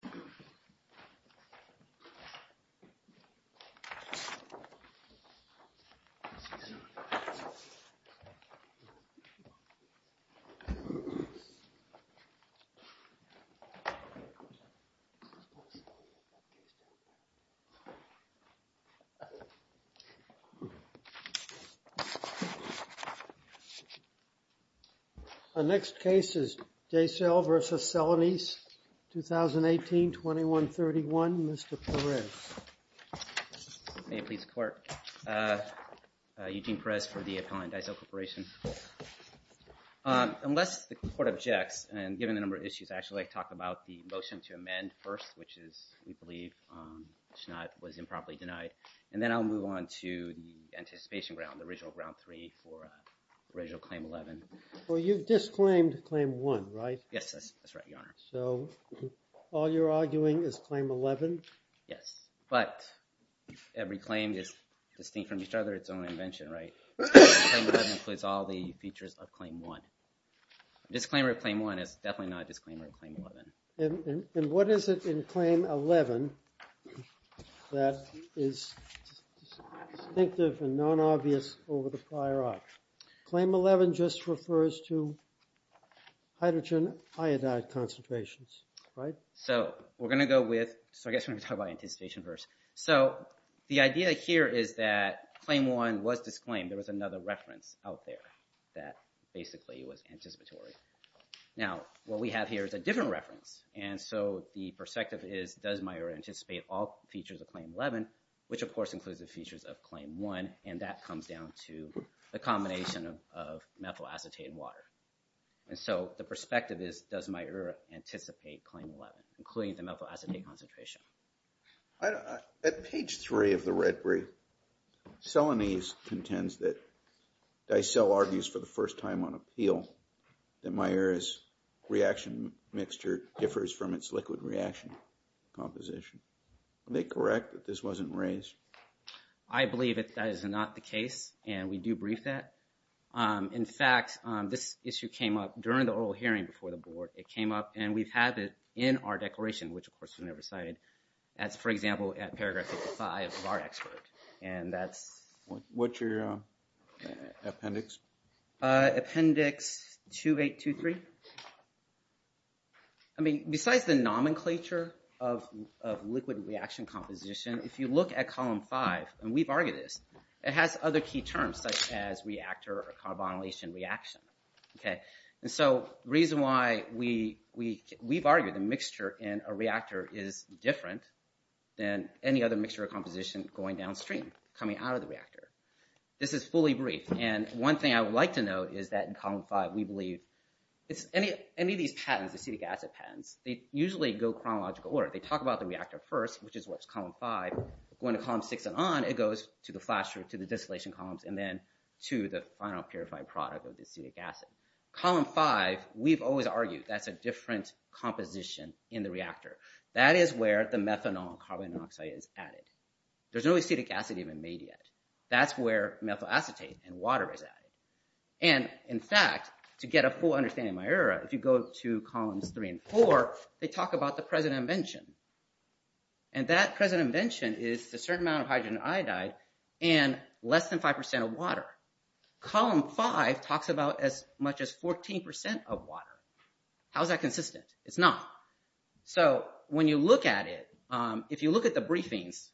The plaintiff is Eugene Perez for the Appellant Daicel Corporation. Unless the court objects, and given the number of issues, I'd actually like to talk about the motion to amend first, which is, we believe, Schneidt was improperly denied. And then I'll move on to the anticipation round, the original round three for original Claim 11. Well, you've disclaimed Claim 1, right? Yes, that's right, Your Honor. So, all you're arguing is Claim 11? Yes, but every claim is distinct from each other, it's own invention, right? Claim 11 includes all the features of Claim 1. Disclaimer of Claim 1 is definitely not a disclaimer of Claim 11. And what is it in Claim 11 that is distinctive and non-obvious over the prior op? Claim 11 just refers to hydrogen iodide concentrations, right? So we're going to go with, so I guess we're going to talk about anticipation first. So the idea here is that Claim 1 was disclaimed, there was another reference out there that basically was anticipatory. Now what we have here is a different reference, and so the perspective is, does Meyer anticipate all features of Claim 11, which of course includes the features of Claim 1, and that comes down to the combination of methyl acetate and water. And so the perspective is, does Meyer anticipate Claim 11, including the methyl acetate concentration? At page 3 of the Red Brief, Selanese contends that Dicelle argues for the first time on appeal that Meyer's reaction mixture differs from its liquid reaction composition. Are they correct that this wasn't raised? I believe that that is not the case, and we do brief that. In fact, this issue came up during the oral hearing before the board. It came up, and we've had it in our declaration, which of course was never cited. That's, for example, at paragraph 55 of our expert, and that's... What's your appendix? Appendix 2823. I mean, besides the nomenclature of liquid reaction composition, if you look at column 5, and we've argued this, it has other key terms such as reactor or carbonylation reaction. So the reason why we've argued the mixture in a reactor is different than any other mixture or composition going downstream, coming out of the reactor. This is fully brief, and one thing I would like to note is that in column 5 we believe any of these patents, acetic acid patents, they usually go chronological order. They talk about the reactor first, which is what's column 5. Going to column 6 and on, it goes to the flasher, to the distillation columns, and then to the final purified product of the acetic acid. Column 5, we've always argued that's a different composition in the reactor. That is where the methanol and carbon monoxide is added. There's no acetic acid even made yet. That's where methyl acetate and water is added. And in fact, to get a full understanding of my error, if you go to columns 3 and 4, they talk about the present invention, and that present invention is a certain amount of hydrogen iodide and less than 5% of water. Column 5 talks about as much as 14% of water. How's that consistent? It's not. So when you look at it, if you look at the briefings,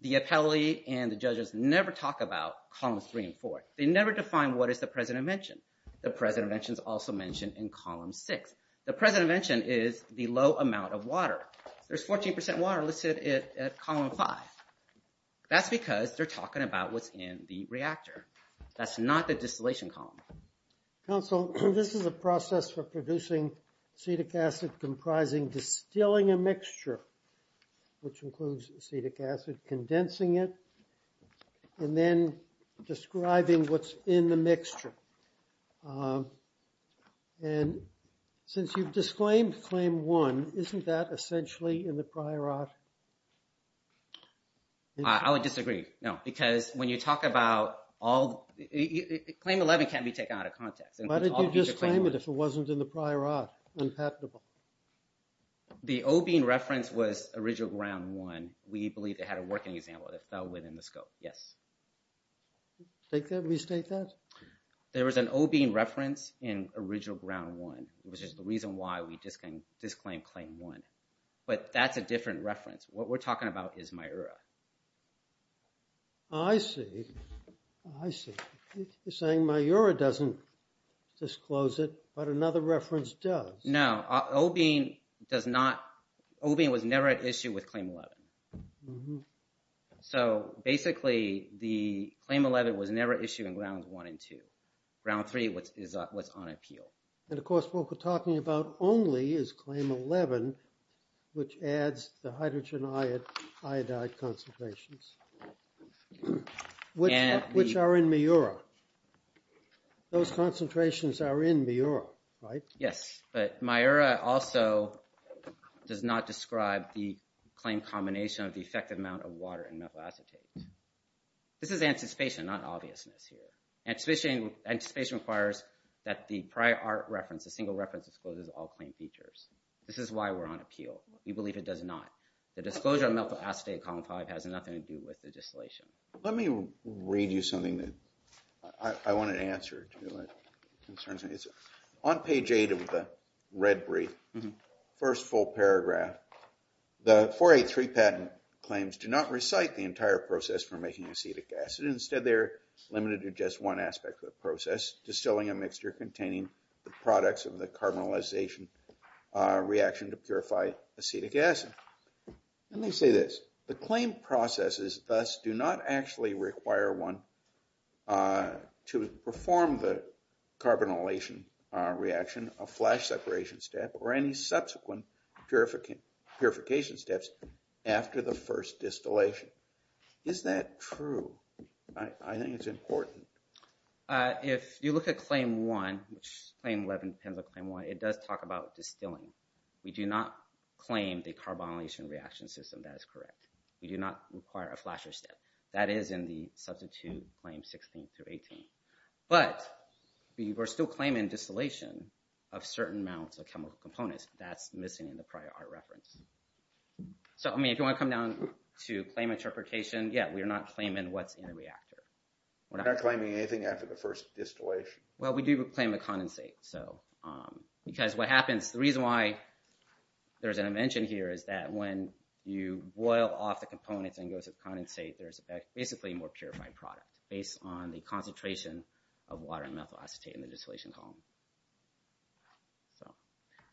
the appellate and the judges never talk about columns 3 and 4. They never define what is the present invention. The present invention is also mentioned in column 6. The present invention is the low amount of water. There's 14% water listed at column 5. That's because they're talking about what's in the reactor. That's not the distillation column. Counsel, this is a process for producing acetic acid comprising distilling a mixture, which is what's in the mixture. And since you've disclaimed claim 1, isn't that essentially in the prior art? I would disagree. No, because when you talk about all... Claim 11 can't be taken out of context. Why did you disclaim it if it wasn't in the prior art? Unpatentable. The OB reference was original ground 1. We believe it had a working example that fell within the scope. Yes. Restate that? There was an OB reference in original ground 1. It was just the reason why we disclaimed claim 1. But that's a different reference. What we're talking about is MIURA. I see. I see. You're saying MIURA doesn't disclose it, but another reference does. No. OB does not... OB was never at issue with claim 11. So basically, the claim 11 was never issued in ground 1 and 2. Ground 3 is what's on appeal. And of course, what we're talking about only is claim 11, which adds the hydrogen iodide concentrations, which are in MIURA. Those concentrations are in MIURA, right? Yes. But MIURA also does not describe the claim combination of the effective amount of water and methyl acetate. This is anticipation, not obviousness here. Anticipation requires that the prior art reference, the single reference, discloses all claim features. This is why we're on appeal. We believe it does not. The disclosure of methyl acetate in column 5 has nothing to do with the distillation. Let me read you something that I want to answer to your concerns. On page 8 of the red brief, first full paragraph, the 483 patent claims do not recite the entire process for making acetic acid. Instead, they're limited to just one aspect of the process, distilling a mixture containing the products of the carbonylization reaction to purify acetic acid. Let me say this. The claim processes thus do not actually require one to perform the carbonylation reaction, a flash separation step, or any subsequent purification steps after the first distillation. Is that true? I think it's important. If you look at claim 1, which claim 11 depends on claim 1, it does talk about distilling. We do not claim the carbonylation reaction system. That is correct. We do not require a flasher step. That is in the substitute claims 16 through 18. But we're still claiming distillation of certain amounts of chemical components. That's missing in the prior art reference. If you want to come down to claim interpretation, yeah, we're not claiming what's in the reactor. We're not claiming anything after the first distillation. Well, we do claim to condensate. Because what happens, the reason why there's an invention here is that when you boil off the components and go to condensate, there's basically a more purified product based on the concentration of water and methyl acetate in the distillation column.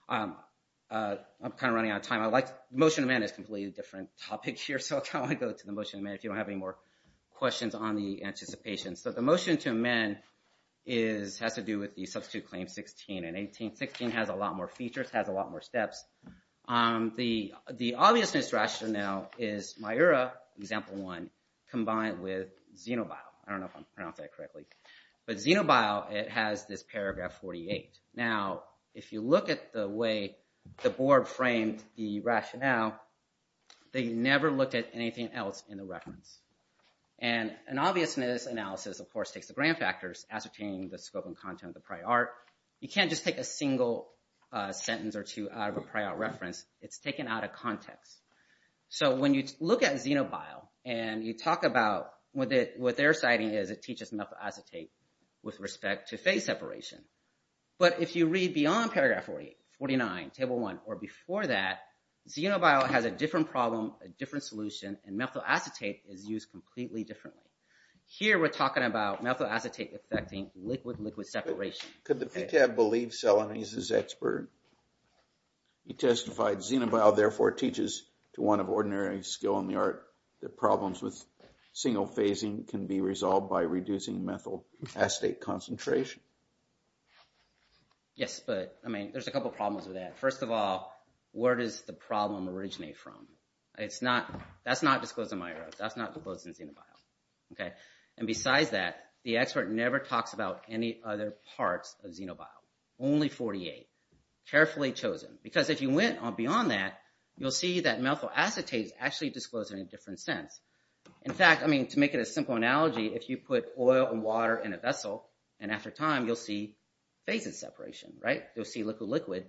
I'm kind of running out of time. Motion to amend is a completely different topic here, so I'll go to the motion to amend if you don't have any more questions on the anticipation. So the motion to amend has to do with the substitute claim 16. And 18.16 has a lot more features, has a lot more steps. The obviousness rationale is MIURA, example 1, combined with xenobiol. I don't know if I'm pronouncing that correctly. But xenobiol, it has this paragraph 48. Now, if you look at the way the board framed the rationale, they never looked at anything else in the reference. And an obviousness analysis, of course, takes the grand factors, ascertaining the scope and content of the prior art. You can't just take a single sentence or two out of a prior art reference. It's taken out of context. So when you look at xenobiol and you talk about what their citing is, it teaches methyl acetate with respect to phase separation. But if you read beyond paragraph 48, 49, table 1, or before that, xenobiol has a different problem, a different solution, and methyl acetate is used completely differently. Here, we're talking about methyl acetate affecting liquid-liquid separation. Could the PTAB believe Selonese is expert? He testified, xenobiol, therefore, teaches to one of ordinary skill in the art that problems with single phasing can be resolved by reducing methyl acetate concentration. Yes, but, I mean, there's a couple problems with that. First of all, where does the problem originate from? That's not disclosed in my art. That's not disclosed in xenobiol. And besides that, the expert never talks about any other parts of xenobiol. Only 48. Carefully chosen. Because if you went beyond that, you'll see that methyl acetate is actually disclosed in a different sense. In fact, to make it a simple analogy, if you put oil and water in a vessel, and after time you'll see phases separation, right? You'll see liquid-liquid.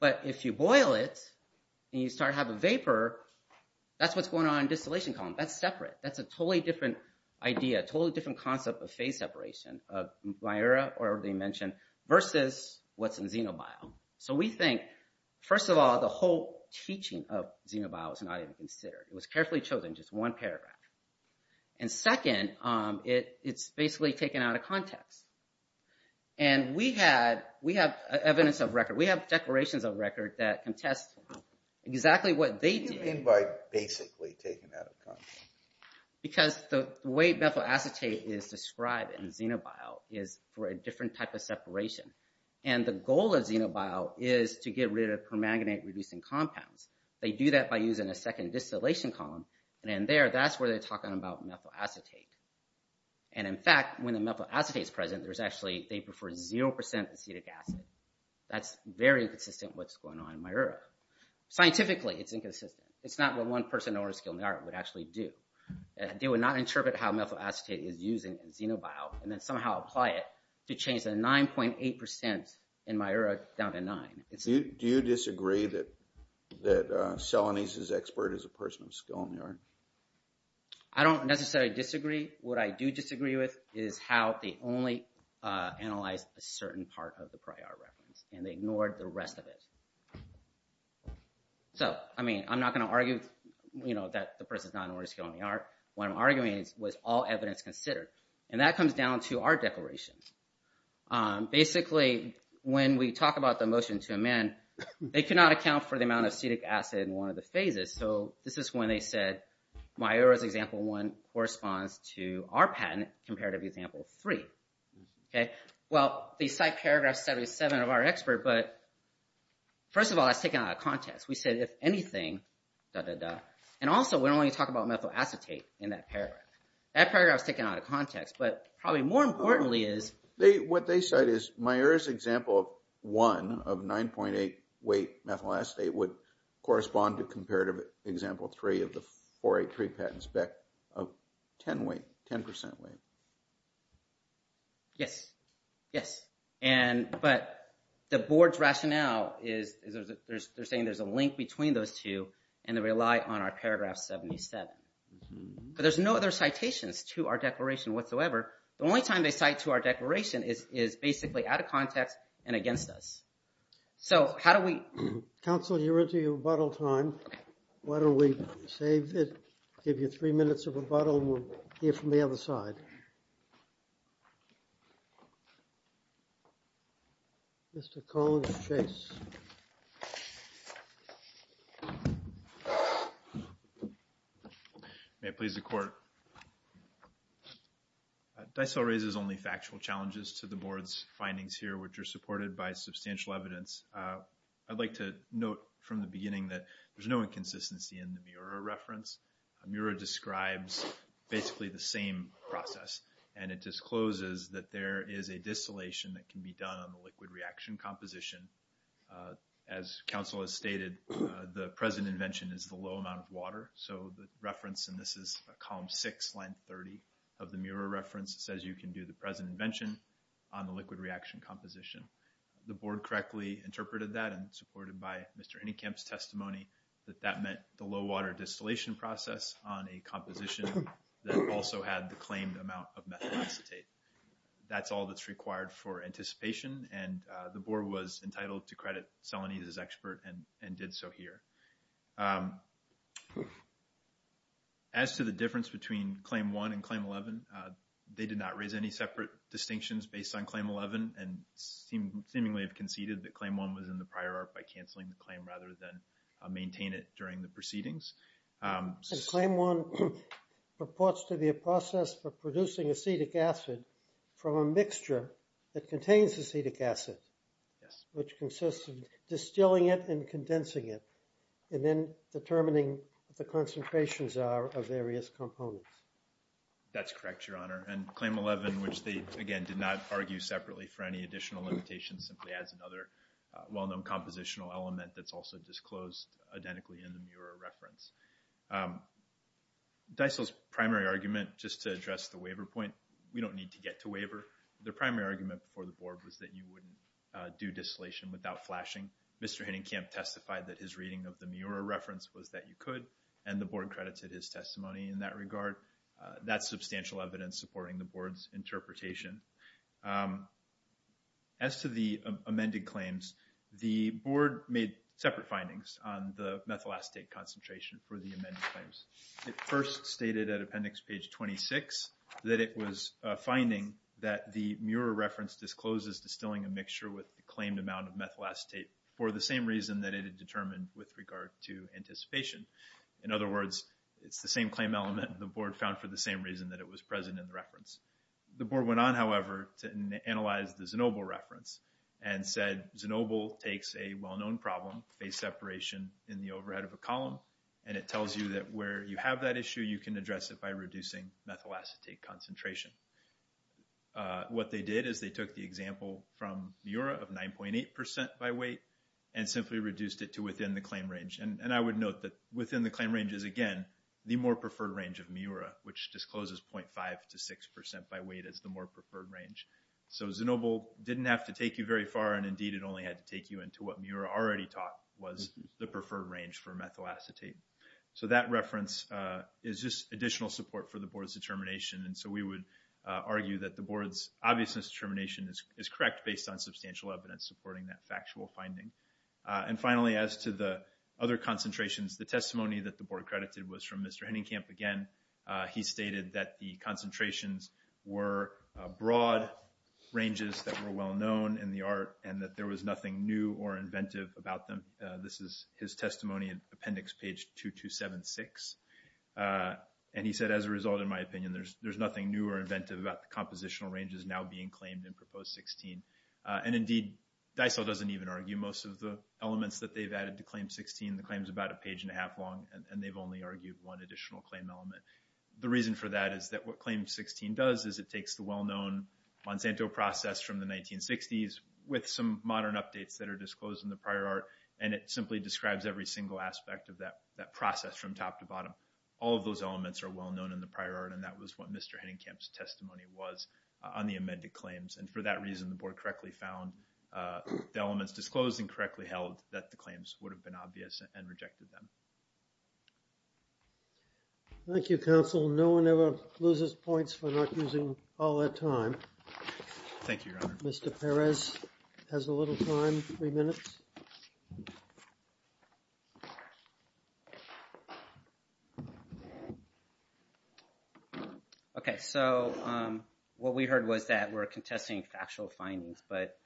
But if you boil it, and you start to have a vapor, that's what's going on in distillation column. That's separate. That's a totally different idea, totally different concept of phase separation, of my era, or dimension, versus what's in xenobiol. So we think, first of all, the whole teaching of xenobiol is not even considered. It was carefully chosen, just one paragraph. And second, it's basically taken out of context. And we have evidence of record. We have declarations of record that contest exactly what they do. What do you mean by basically taken out of context? Because the way methyl acetate is described in xenobiol is for a different type of separation. And the goal of xenobiol is to get rid of permanganate-reducing compounds. They do that by using a second distillation column. And in there, that's where they talk about methyl acetate. And in fact, when the methyl acetate is present, they prefer 0% acetic acid. That's very inconsistent with what's going on in my era. Scientifically, it's inconsistent. It's not what one person or a skilled neurologist would actually do. They would not interpret how methyl acetate is used in xenobiol, and then somehow apply it to change the 9.8% in my era down to 9. Do you disagree that Selenis is expert as a person of skill in the art? I don't necessarily disagree. What I do disagree with is how they only analyzed a certain part of the prior reference and ignored the rest of it. So, I mean, I'm not going to argue that the person is not an artist of skill in the art. What I'm arguing is, was all evidence considered? And that comes down to our declarations. Basically, when we talk about the motion to amend, they cannot account for the amount of acetic acid in one of the phases. So this is when they said, my era's example one corresponds to our patent compared to example three. Well, they cite paragraph 77 of our expert, but first of all, that's taken out of context. We said, if anything, da, da, da. And also, we're only talking about methyl acetate in that paragraph. That paragraph is taken out of context, but probably more importantly is... What they said is, my era's example one of 9.8 weight methyl acetate would correspond to comparative example three of the 483 patent spec of 10 weight, 10% weight. Yes. Yes. And, but the board's rationale is, they're saying there's a link between those two and they rely on our paragraph 77. But there's no other citations to our declaration whatsoever. The only time they cite to our declaration is basically out of context and against us. So how do we... Counsel, you're into your rebuttal time. Why don't we save it, give you three minutes of rebuttal, and we'll hear from the other side. Mr. Collins Chase. May it please the court. DICEL raises only factual challenges to the board's findings here, which are supported by substantial evidence. I'd like to note from the beginning that there's no inconsistency in the Miura reference. Miura describes basically the same process, and it discloses that there is a distillation that can be done on the liquid reaction composition. As counsel has stated, the present invention is the low amount of water. So the reference, and this is column six, line 30 of the Miura reference, says you can do the present invention on the liquid reaction composition. The board correctly interpreted that, and supported by Mr. Innekamp's testimony, that that meant the low water distillation process on a composition that also had the claimed amount of methyl acetate. That's all that's required for anticipation, and the board was entitled to credit Salonita's expert and did so here. As to the difference between Claim 1 and Claim 11, they did not raise any separate distinctions based on Claim 11, and seemingly conceded that Claim 1 was in the prior art by canceling the claim rather than maintain it during the proceedings. Claim 1 purports to be a process for producing acetic acid from a mixture that contains acetic acid, which consists of distilling it and condensing it, and then determining what the concentrations are of various components. That's correct, Your Honor. And Claim 11, which they, again, did not argue separately for any additional limitations, simply adds another well-known compositional element that's also disclosed identically in the Miura reference. Dysel's primary argument, just to address the waiver point, we don't need to get to waiver. The primary argument for the board was that you wouldn't do distillation without flashing. Mr. Henningkamp testified that his reading of the Miura reference was that you could, and the board credited his testimony in that regard. That's substantial evidence supporting the board's interpretation. As to the amended claims, the board made separate findings on the methyl acetate concentration for the amended claims. It first stated at Appendix Page 26 that it was a finding that the Miura reference discloses distilling a mixture with the claimed amount of methyl acetate for the same reason that it had determined with regard to anticipation. In other words, it's the same claim element the board found for the same reason that it was present in the reference. The board went on, however, to analyze the Znobel reference and said Znobel takes a well-known problem, phase separation in the overhead of a column, and it tells you that where you have that issue, you can address it by reducing methyl acetate concentration. What they did is they took the example from Miura of 9.8% by weight and simply reduced it to within the claim range. And I would note that within the claim range is, again, the more preferred range of Miura, which discloses 0.5% to 6% by weight as the more preferred range. So Znobel didn't have to take you very far, and indeed it only had to take you into what Miura already taught, was the preferred range for methyl acetate. So that reference is just additional support for the board's determination, and so we would argue that the board's obviousness determination is correct based on substantial evidence supporting that factual finding. And finally, as to the other concentrations, the testimony that the board credited was from Mr. Henningkamp again. He stated that the concentrations were broad ranges that were well-known in the art and that there was nothing new or inventive about them. This is his testimony in Appendix 2276, and he said, as a result, in my opinion, there's nothing new or inventive about the compositional ranges now being claimed in Proposed 16. And indeed, Dysel doesn't even argue most of the elements that they've added to Claim 16. The claim's about a page and a half long, and they've only argued one additional claim element. The reason for that is that what Claim 16 does is it takes the well-known Monsanto process from the 1960s with some modern updates that are disclosed in the prior art, and it simply describes every single aspect of that process from top to bottom. All of those elements are well-known in the prior art, and that was what Mr. Henningkamp's testimony was on the amended claims. And for that reason, the board correctly found the elements disclosed and correctly held that the claims would have been obvious and rejected them. Thank you, Counsel. No one ever loses points for not using all their time. Thank you, Your Honor. Mr. Perez has a little time. Three minutes. Okay, so what we heard was that we're contesting factual findings, but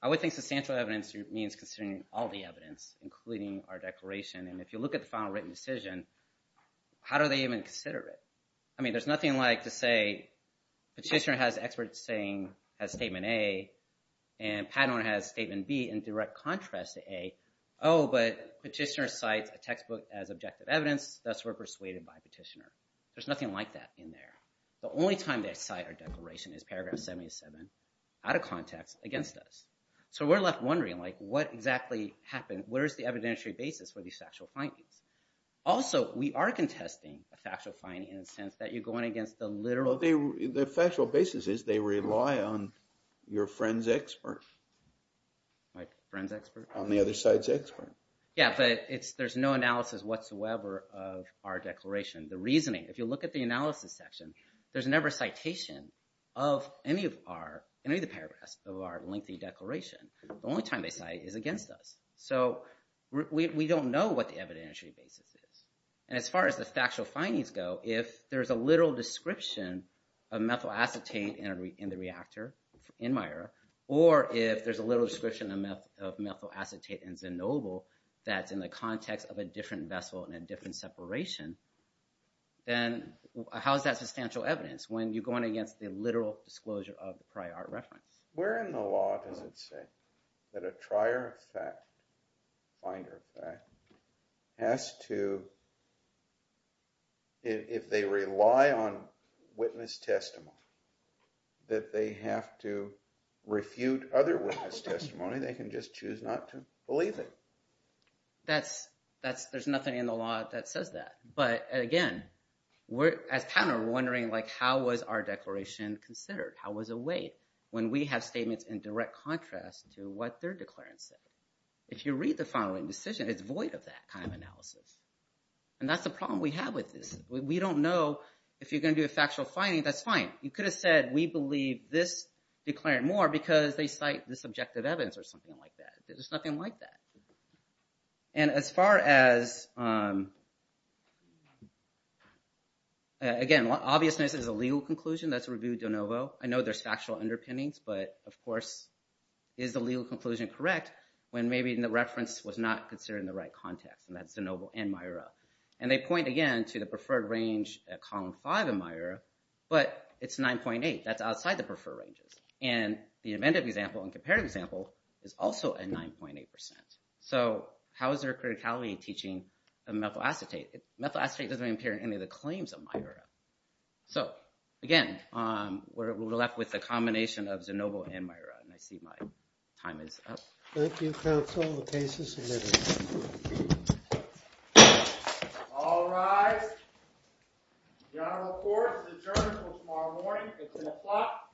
I would think substantial evidence means considering all the evidence, including our declaration. And if you look at the final written decision, how do they even consider it? I mean, there's nothing like to say Petitioner has experts saying, has Statement A, and Pat owner has Statement B in direct contrast to A. Oh, but Petitioner cites a textbook as objective evidence, thus we're persuaded by Petitioner. There's nothing like that in there. The only time they cite our declaration is Paragraph 77, out of context, against us. So we're left wondering, like, what exactly happened? Where's the evidentiary basis for these factual findings? Also, we are contesting a factual finding in the sense that you're going against the literal... The factual basis is they rely on your friend's expert. My friend's expert? On the other side's expert. Yeah, but there's no analysis whatsoever of our declaration. The reasoning, if you look at the analysis section, there's never a citation of any of our paragraphs of our lengthy declaration. The only time they cite is against us. So we don't know what the evidentiary basis is. And as far as the factual findings go, if there's a literal description of methyl acetate in the reactor, in Meyer, or if there's a literal description of methyl acetate in Zenoble that's in the context of a different vessel and a different separation, then how is that substantial evidence when you're going against the literal disclosure of the prior reference? We're in the law, as it says, that a trier fact, finder fact, has to... If they rely on witness testimony, that they have to refute other witness testimony, they can just choose not to believe it. That's... There's nothing in the law that says that. But, again, we're... As counter, we're wondering, like, how was our declaration considered? How was it weighed? When we have statements in direct contrast to what their declarant said. If you read the following decision, it's void of that kind of analysis. And that's the problem we have with this. We don't know if you're going to do a factual finding, that's fine. You could have said, we believe this declarant more because they cite this objective evidence or something like that. There's nothing like that. And as far as... Again, obviousness is a legal conclusion, that's reviewed de novo. I know there's factual underpinnings, but, of course, is the legal conclusion correct when maybe the reference was not considered in the right context? And that's de novo and MIRA. And they point, again, to the preferred range at column 5 in MIRA, but it's 9.8. That's outside the preferred ranges. And the inventive example and comparative example is also at 9.8%. So, how is there a criticality teaching of methyl acetate? Methyl acetate doesn't appear in any of the claims of MIRA. So, again, we're left with the combination of de novo and MIRA. And I see my time is up. Thank you, counsel. The case is submitted. All rise. The Honorable Court is adjourned until tomorrow morning at 10 o'clock AM.